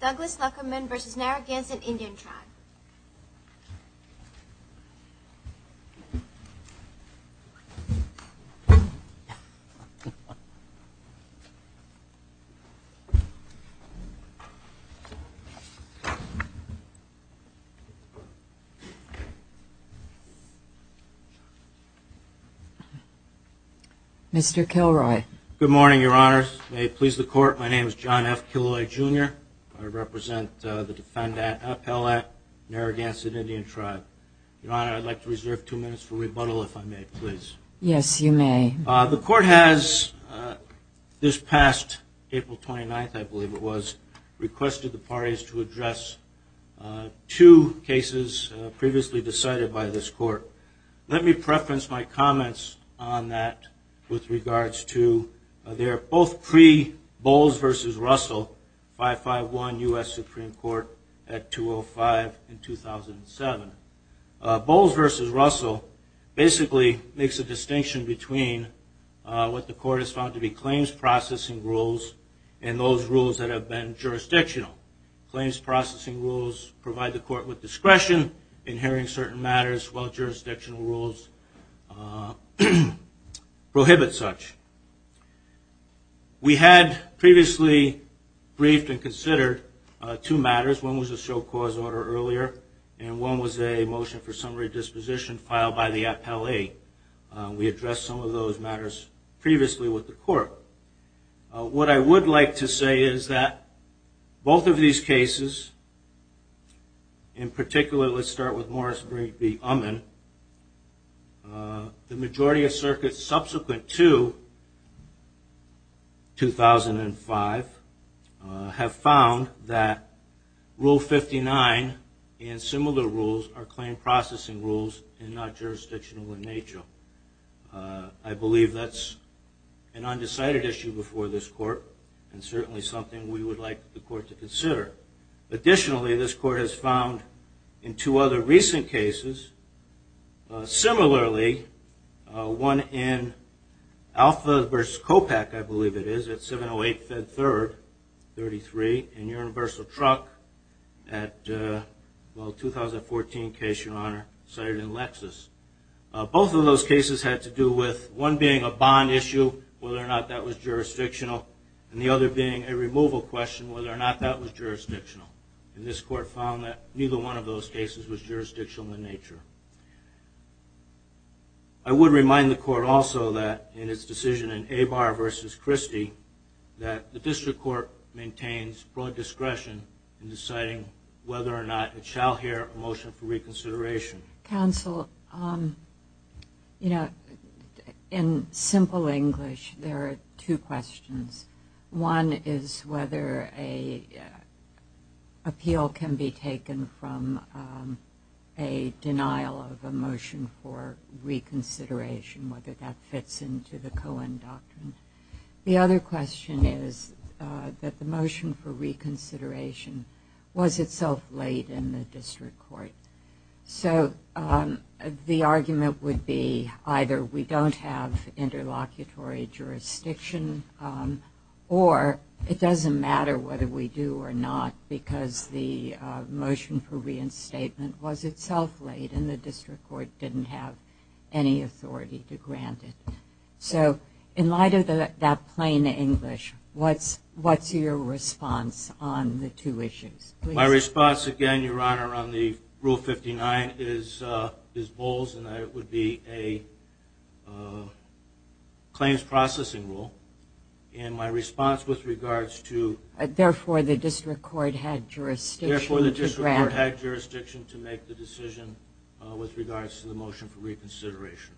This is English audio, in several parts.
Douglas Luckerman v. Narragansett Indian Tribe. Mr. Kilroy. Good morning, your honors. May it please the court that I represent the defendant, Appellate Narragansett Indian Tribe. Your honor, I'd like to reserve two minutes for rebuttal, if I may, please. Yes, you may. The court has, this past April 29th, I believe it was, requested the parties to address two cases previously decided by this court. Let me preference my comments on that with regards to, they are both pre Bowles v. Russell, 551 U.S. Supreme Court at 205 in 2007. Bowles v. Russell basically makes a distinction between what the court has found to be claims processing rules and those rules that have been jurisdictional. Claims processing rules provide the court with discretion in hearing certain matters while jurisdictional rules prohibit such. We had previously briefed and considered the two matters, one was a show cause order earlier and one was a motion for summary disposition filed by the appellate. We addressed some of those matters previously with the court. What I would like to say is that both of these cases, in particular let's start with Morris v. Uman, the majority of circuits subsequent to 2005 have found that the court has found that Rule 59 and similar rules are claim processing rules and not jurisdictional in nature. I believe that's an undecided issue before this court and certainly something we would like the court to consider. Additionally, this court has found in two other recent cases, similarly one in Alpha v. COPEC, I believe it is, at 708 Fed Third, 33, and Urim v. Truck at, well, 2014 case, Your Honor, cited in Lexis. Both of those cases had to do with one being a bond issue, whether or not that was jurisdictional, and the other being a removal question, whether or not that was jurisdictional. And this court found that neither one of those cases was jurisdictional in nature. I would remind the court also that in its decision in Abar v. Christie that the district court maintains broad discretion in deciding whether or not it shall hear a motion for reconsideration. Counsel, you know, in simple English there are two questions. One is whether an appeal can be taken from a denial of a motion for reconsideration, whether that fits into the Cohen Doctrine. The other question is that the motion for reconsideration was itself laid in the district court. So the argument would be either we don't have interlocutory jurisdiction or it doesn't matter whether we do or not because the motion for reinstatement was itself laid and the district court didn't have any authority to grant it. So in light of that plain English, what's your response on the two issues? My response, again, Your Honor, on the Rule 59 is balls and that it would be a claims processing rule. And my response with regards to the motion for reconsideration.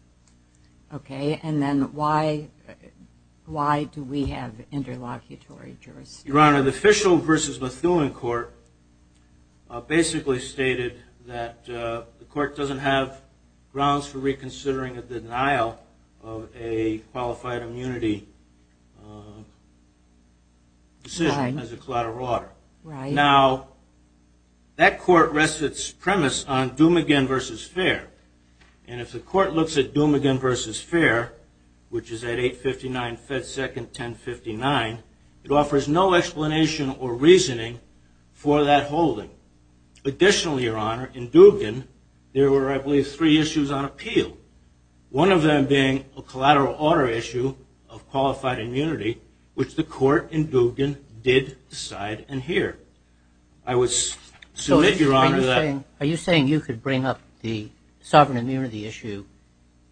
Okay, and then why do we have interlocutory jurisdiction? Your Honor, the Fishel v. Methuen court basically stated that the court doesn't have grounds for reconsidering a denial of a qualified immunity decision as a collateral order. Now, that court rests its premise on the fact that the court looks at Dumagin v. Fair, and if the court looks at Dumagin v. Fair, which is at 859 Fed Second 1059, it offers no explanation or reasoning for that holding. Additionally, Your Honor, in Dugan, there were, I believe, three issues on appeal, one of them being a collateral order issue of qualified immunity, which the court in Dugan did decide and hear. I would submit, Your Honor, that... So, are you saying you could bring up the sovereign immunity issue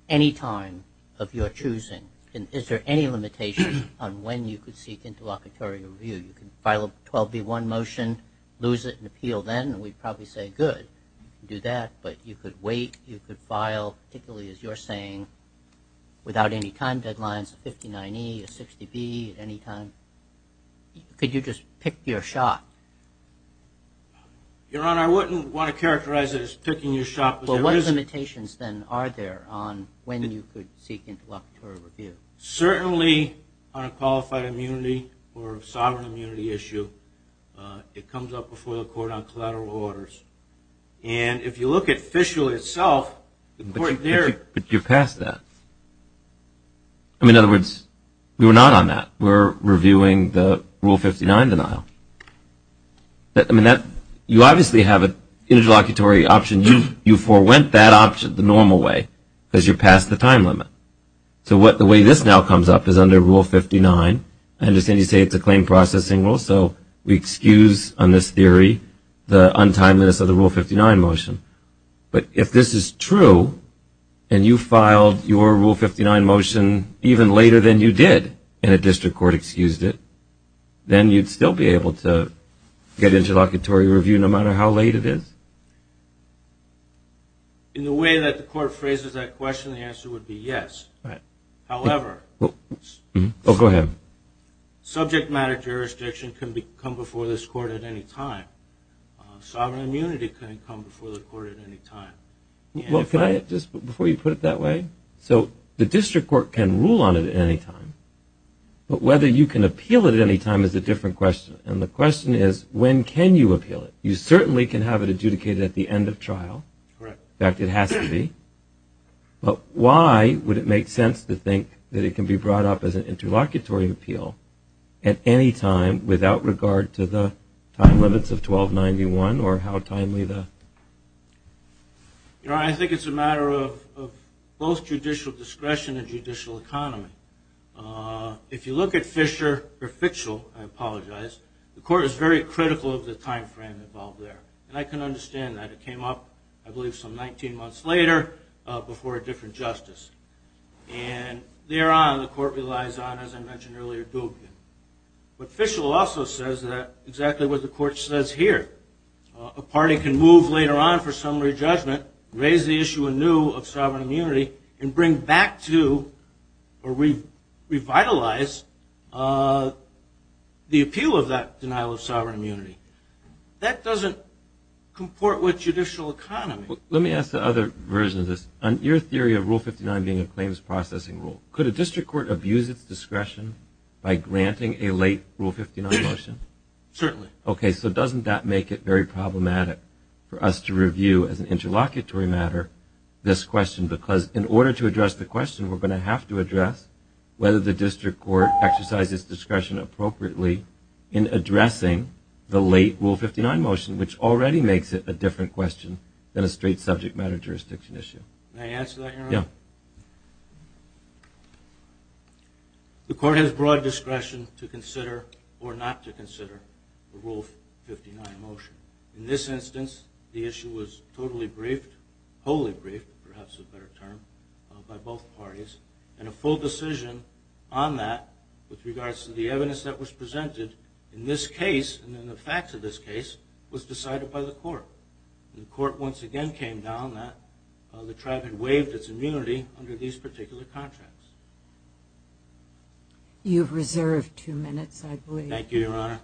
any time of your choosing? Is there any limitation on when you could seek interlocutory review? You could file a 12b1 motion, lose it, and appeal then, and we'd probably say, good, you can do that. But you could wait, you could file, particularly as you're saying, without any time deadlines, a 59e, a 60b, at any time. Could you just pick your shot? Your Honor, I wouldn't want to characterize it as picking your shot, but there is... Well, what limitations, then, are there on when you could seek interlocutory review? Certainly, on a qualified immunity or a sovereign immunity issue, it comes up before the court on collateral orders. And if you look at Fishel itself, the court there... But you passed that. In other words, we were not on that. We're reviewing the Rule 59 denial. I mean, that... You obviously have an interlocutory option. You forewent that option the normal way, because you're past the time limit. So, the way this now comes up is under Rule 59. I understand you say it's a claim processing rule, so we excuse, on this theory, the untimeliness of the Rule 59 motion. But if this is true, and you filed your Rule 59 motion even later than you did, and a district court excused it, then you'd still be able to get interlocutory review, no matter how late it is? In the way that the court phrases that question, the answer would be yes. However... Oh, go ahead. Subject matter jurisdiction can come before this court at any time. Sovereign immunity can come before the court at any time. Well, can I just... Before you put it that way? So, the district court can rule on it at any time. But whether you can appeal it at any time is a different question. And the question is, when can you appeal it? You certainly can have it adjudicated at the end of trial. In fact, it has to be. But why would it make sense to think that it can be brought up as an interlocutory appeal at any time, without regard to the time limits of 1291, or how timely the... You know, I think it's a matter of both judicial discretion and judicial economy. If you look at Fisher, or Fischel, I apologize, the court is very critical of the time frame involved there. And I can understand that. It came up, I believe, some 19 months later, before a different justice. And thereon, the court relies on, as I mentioned earlier, Duggan. But Fischel also says that, exactly what the court says here, a party can move later on for summary judgment, raise the issue anew of sovereign immunity, and bring back to, or revitalize, the appeal of that denial of sovereign immunity. That doesn't comport with judicial economy. Let me ask the other version of this. On your theory of Rule 59 being a claims processing rule, could a district court abuse its discretion by granting a late Rule 59 motion? Certainly. Okay, so doesn't that make it very problematic for us to review, as an interlocutory matter, this question? Because in order to address the question, we're going to have to address whether the district court exercises discretion appropriately in addressing the late Rule 59 motion, which already makes it a different question than a straight subject matter jurisdiction issue. May I answer that, Your Honor? Yeah. The court has broad discretion to consider, or not to consider, the Rule 59 motion. In this instance, the issue was totally briefed, wholly briefed, perhaps a better term, by both parties, and a full decision on that, with regards to the evidence that was presented in this case, and in the facts of this case, was decided by the court. The court once again came down that the tribe had waived its immunity under these particular contracts. You've reserved two minutes, I believe. Thank you, Your Honor.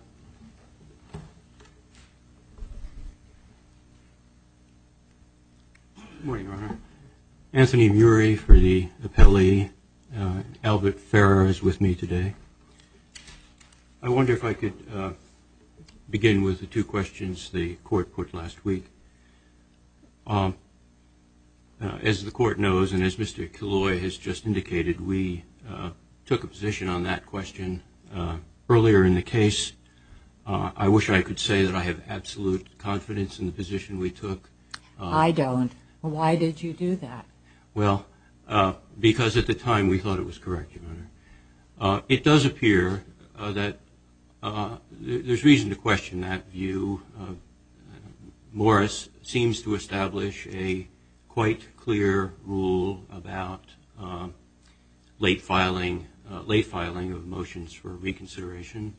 Good morning, Your Honor. Anthony Murey for the appellee. Albert Ferrer is with me today. I wonder if I could begin with the two questions the court put last week. As the court knows, and as Mr. Killoy has just indicated, we took a position on that question earlier in the case. I wish I could say that I have absolute confidence in the position we took. I don't. Why did you do that? Well, because at the time we thought it was correct, Your Honor. It does appear that there's reason to question that view. Morris seems to establish a quite clear rule about late filing of motions for reconsideration,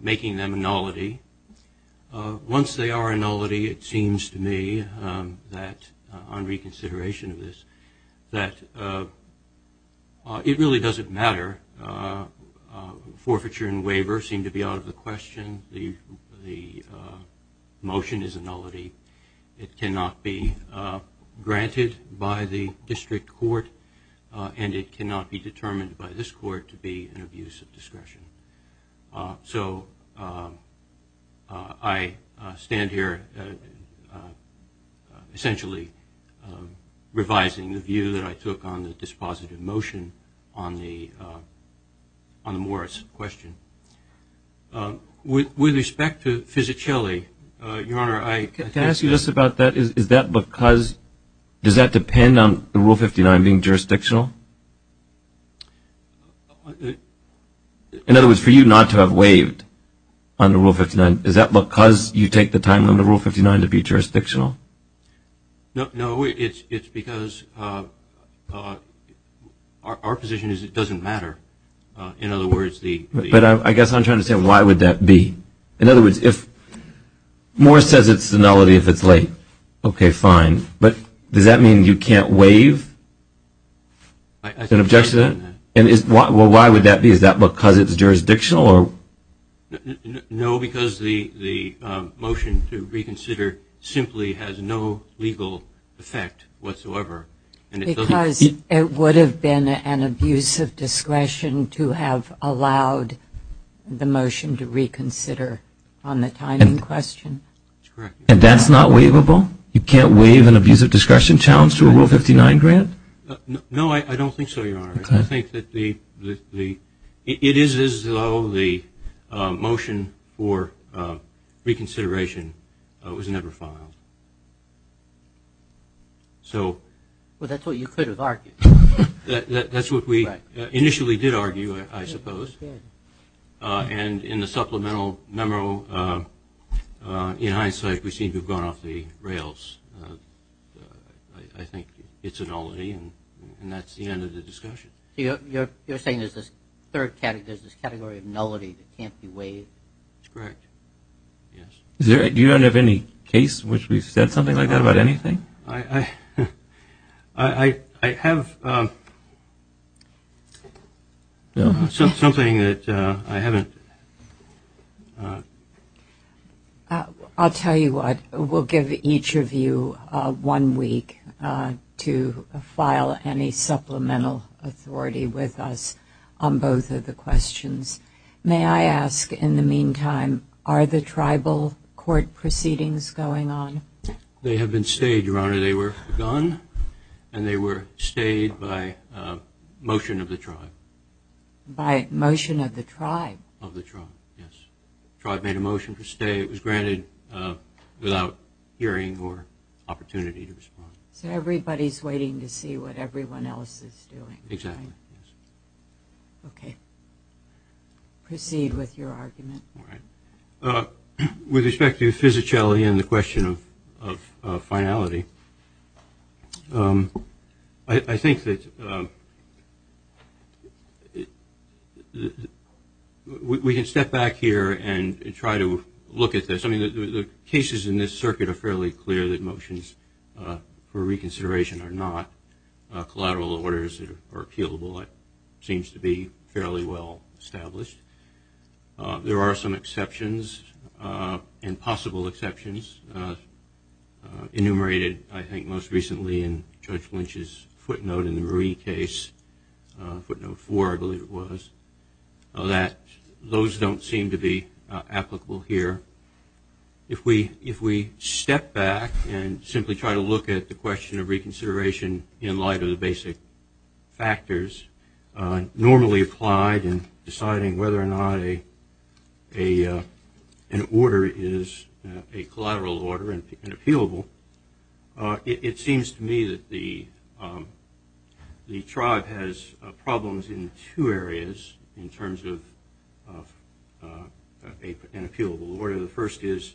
making them a nullity. Once they are a nullity, it really doesn't matter. Forfeiture and waiver seem to be out of the question. The motion is a nullity. It cannot be granted by the district court, and it cannot be determined by this court to be an abuse of discretion. So, I stand here essentially revising the view that I took on the dispositive motion on the Morris question. With respect to Fisichelli, Your Honor, I can't ask you this about that. Is that because, does that depend on Rule 59 being jurisdictional? That was for you not to have waived on the Rule 59. Is that because you take the time on the Rule 59 to be jurisdictional? No, it's because our position is it doesn't matter. But I guess I'm trying to say, why would that be? In other words, if Morris says it's a nullity if it's late, okay, fine. But does that mean you can't waive an objection? Well, why would that be? Is that because it's jurisdictional? No, because the motion to reconsider simply has no legal effect whatsoever. Because it would have been an abuse of discretion to have allowed the motion to reconsider on the timing question? That's correct. And that's not waivable? You can't waive an abuse of discretion challenge to a Rule 59 grant? No, I don't think so, Your Honor. I think that the, it is as though the motion for reconsideration was never filed. Well, that's what you could have argued. That's what we initially did argue, I suppose. And in the supplemental memo, in hindsight, we seem to have gone off the rails. I think it's a nullity, and that's the end of the discussion. You're saying there's this third category, there's this category of nullity that can't be waived? That's correct, yes. You don't have any case in which we've said something like that about anything? I have something that I haven't. I'll tell you what, we'll give each of you one week to file any supplemental authority with us on both of the questions. May I ask, in the meantime, are the tribal court proceedings going on? They have been stayed, Your Honor. They were gone, and they were stayed by motion of the tribe. By motion of the tribe. Of the tribe, yes. The tribe made a motion to stay. It was granted without hearing or opportunity to respond. So everybody's waiting to see what everyone else is doing. Exactly, yes. Okay. Proceed with your argument. With respect to the physicality and the question of finality, I think that we can step back here and try to look at this. I mean, the cases in this circuit are fairly clear that motions for reconsideration are not collateral orders or appealable. It seems to be fairly well established. There are some exceptions and possible exceptions enumerated, I think, most recently in Judge Lynch's footnote in the Marie case, footnote four, I believe it was, that those don't seem to be applicable here. If we step back and simply try to look at the question of reconsideration in light of the basic factors normally applied in deciding whether or not an order is a collateral order and appealable, it seems to me that the tribe has problems in two areas in terms of an appealable order. The first is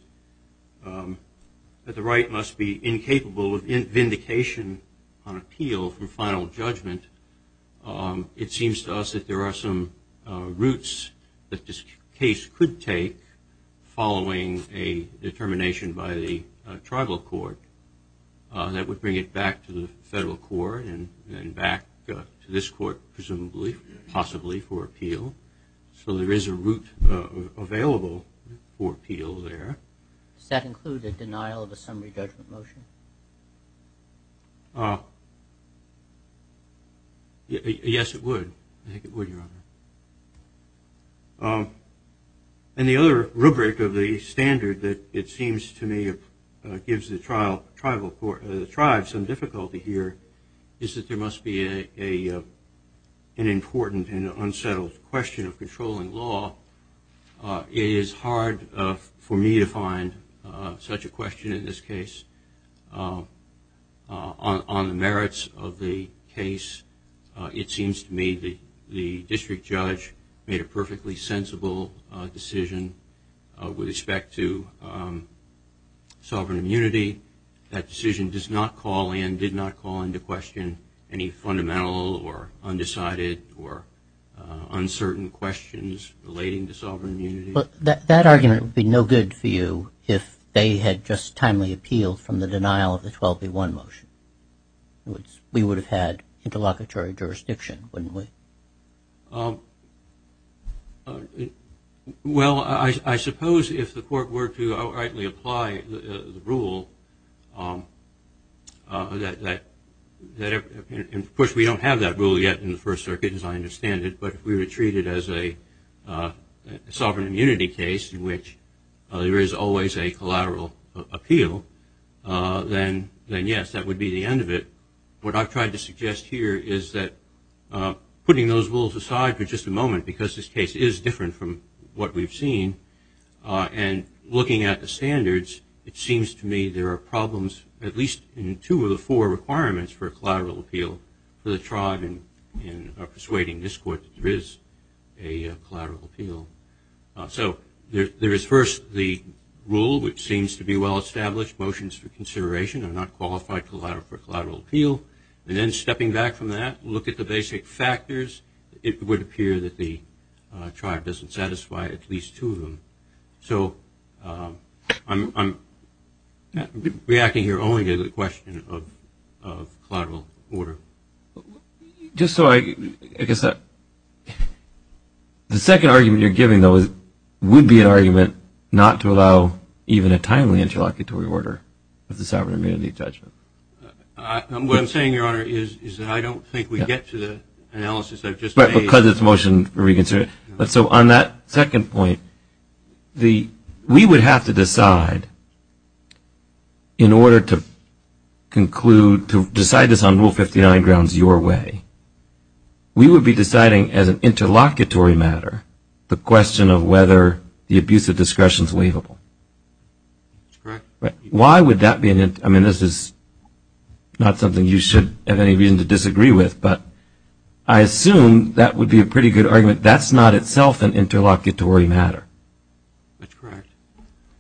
that the right must be incapable of vindication on appeal from final judgment. It seems to us that there are some routes that this case could take following a determination by the tribal court that would bring it back to the federal court and back to this court presumably, possibly for appeal. So there is a route available for appeal there. Does that include the denial of a summary judgment motion? Yes, it would. I think it would, Your Honor. And the other rubric of the standard that it seems to me gives the tribe some difficulty here is that there must be an important and unsettled question of controlling law. It is hard for me to find such a question in this case. On the merits of the case, it seems to me that the district judge made a perfectly sensible decision with respect to sovereign immunity. That decision did not call into question any fundamental or undecided or uncertain questions relating to sovereign immunity. That argument would be no good for you if they had just timely appealed from the denial of the 12A1 motion. We would have had interlocutory jurisdiction, wouldn't we? Well, I suppose if the court were to outrightly apply the rule that, of course, we don't have that rule yet in the First Circuit, as I understand it. But if we were to treat it as a sovereign immunity case in which there is always a collateral appeal, then yes, that would be the end of it. But what I've tried to suggest here is that putting those rules aside for just a moment, because this case is different from what we've seen, and looking at the standards, it seems to me there are problems at least in two of the four requirements for a collateral appeal for the tribe in persuading this court that there is a collateral appeal. So there is first the rule, which seems to be well established, motions for consideration are not qualified for collateral appeal. And then stepping back from that, look at the basic factors, it would appear that the tribe doesn't satisfy at least two of them. So I'm reacting here only to the question of collateral order. Just so I guess that the second argument you're giving, though, would be an argument not to allow even a timely interlocutory order of the sovereign immunity judgment. What I'm saying, Your Honor, is that I don't think we get to the analysis I've just made. Because it's motion reconsidered. So on that second point, we would have to decide, in order to conclude, to decide this on Rule 59 grounds your way, we would be deciding as an interlocutory matter, the question of whether the abuse of discretion is waivable. That's correct. Why would that be an interlocutory matter? I mean, this is not something you should have any reason to disagree with. But I assume that would be a pretty good argument. That's not itself an interlocutory matter. That's correct.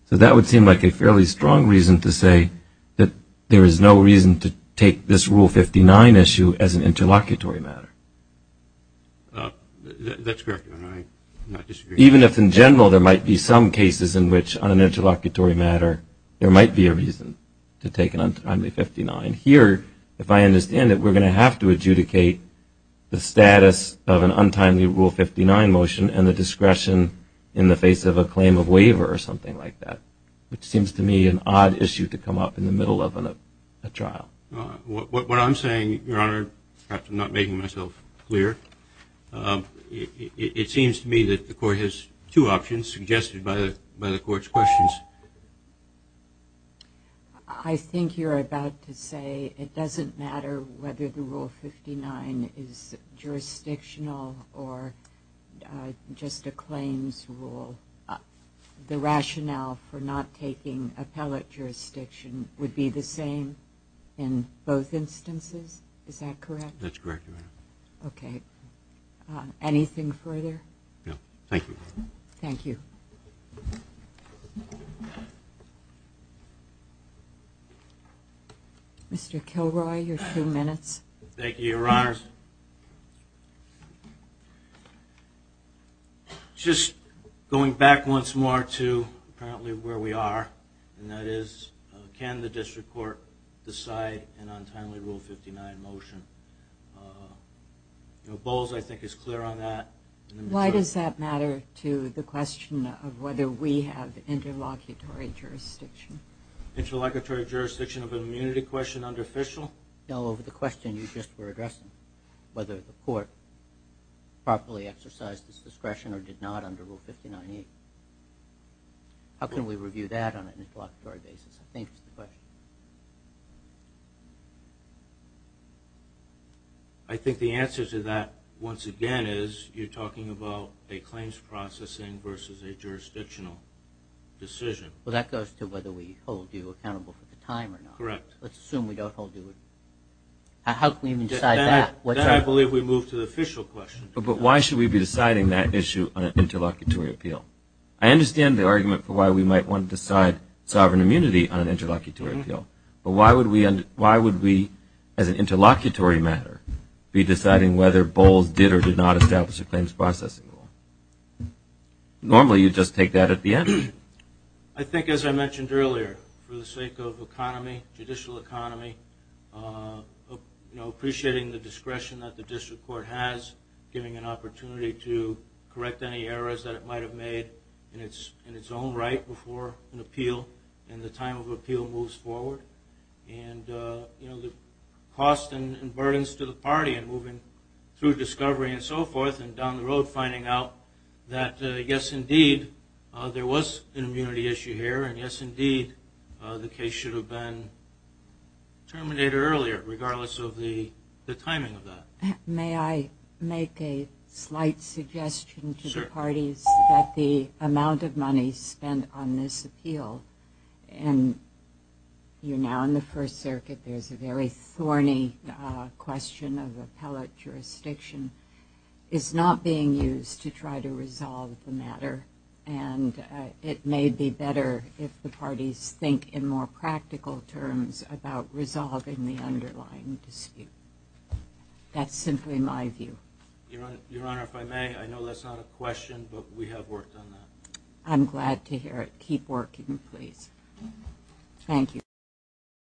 So that would seem like a fairly strong reason to say that there is no reason to take this Rule 59 issue as an interlocutory matter. That's correct, Your Honor. Even if, in general, there might be some cases in which, on an interlocutory matter, there might be a reason to take an untimely 59. Here, if I understand it, we're going to have to adjudicate the status of an untimely Rule 59 motion and the discretion in the face of a claim of waiver or something like that, which seems to me an odd issue to come up in the middle of a trial. What I'm saying, Your Honor, perhaps I'm not making myself clear, it seems to me that the Court has two options suggested by the Court's questions. I think you're about to say it doesn't matter whether the Rule 59 is jurisdictional or just a claims rule. The rationale for not taking appellate jurisdiction would be the same in both instances? Is that correct? That's correct, Your Honor. Okay. Anything further? No. Thank you. Thank you. Mr. Kilroy, your two minutes. Thank you, Your Honor. Your Honor, just going back once more to apparently where we are, and that is can the District Court decide an untimely Rule 59 motion? Bowles, I think, is clear on that. Why does that matter to the question of whether we have interlocutory jurisdiction? Interlocutory jurisdiction of an immunity question under official? No, over the question you just were addressing, whether the Court properly exercised its discretion or did not under Rule 59E. How can we review that on an interlocutory basis? I think that's the question. I think the answer to that, once again, is you're talking about a claims processing versus a jurisdictional decision. Well, that goes to whether we hold you accountable for the time or not. Correct. Let's assume we don't hold you accountable. How can we even decide that? I believe we move to the official question. But why should we be deciding that issue on an interlocutory appeal? I understand the argument for why we might want to decide sovereign immunity on an interlocutory appeal, but why would we, as an interlocutory matter, be deciding whether Bowles did or did not establish a claims processing rule? Normally, you'd just take that at the end. I think, as I mentioned earlier, for the sake of economy, judicial economy, appreciating the discretion that the District Court has, giving an opportunity to correct any errors that it might have made in its own right before an appeal in the time of appeal moves forward, and the cost and burdens to the party in moving through discovery and so forth and down the road finding out that, yes, indeed, there was an immunity issue here, and, yes, indeed, the case should have been terminated earlier, regardless of the timing of that. May I make a slight suggestion to the parties that the amount of money spent on this appeal and you're now in the First Circuit, there's a very thorny question of appellate jurisdiction, is not being used to try to resolve the matter, and it may be better if the parties think in more practical terms about resolving the underlying dispute. That's simply my view. Your Honor, if I may, I know that's not a question, but we have worked on that. I'm glad to hear it. Keep working, please. Thank you.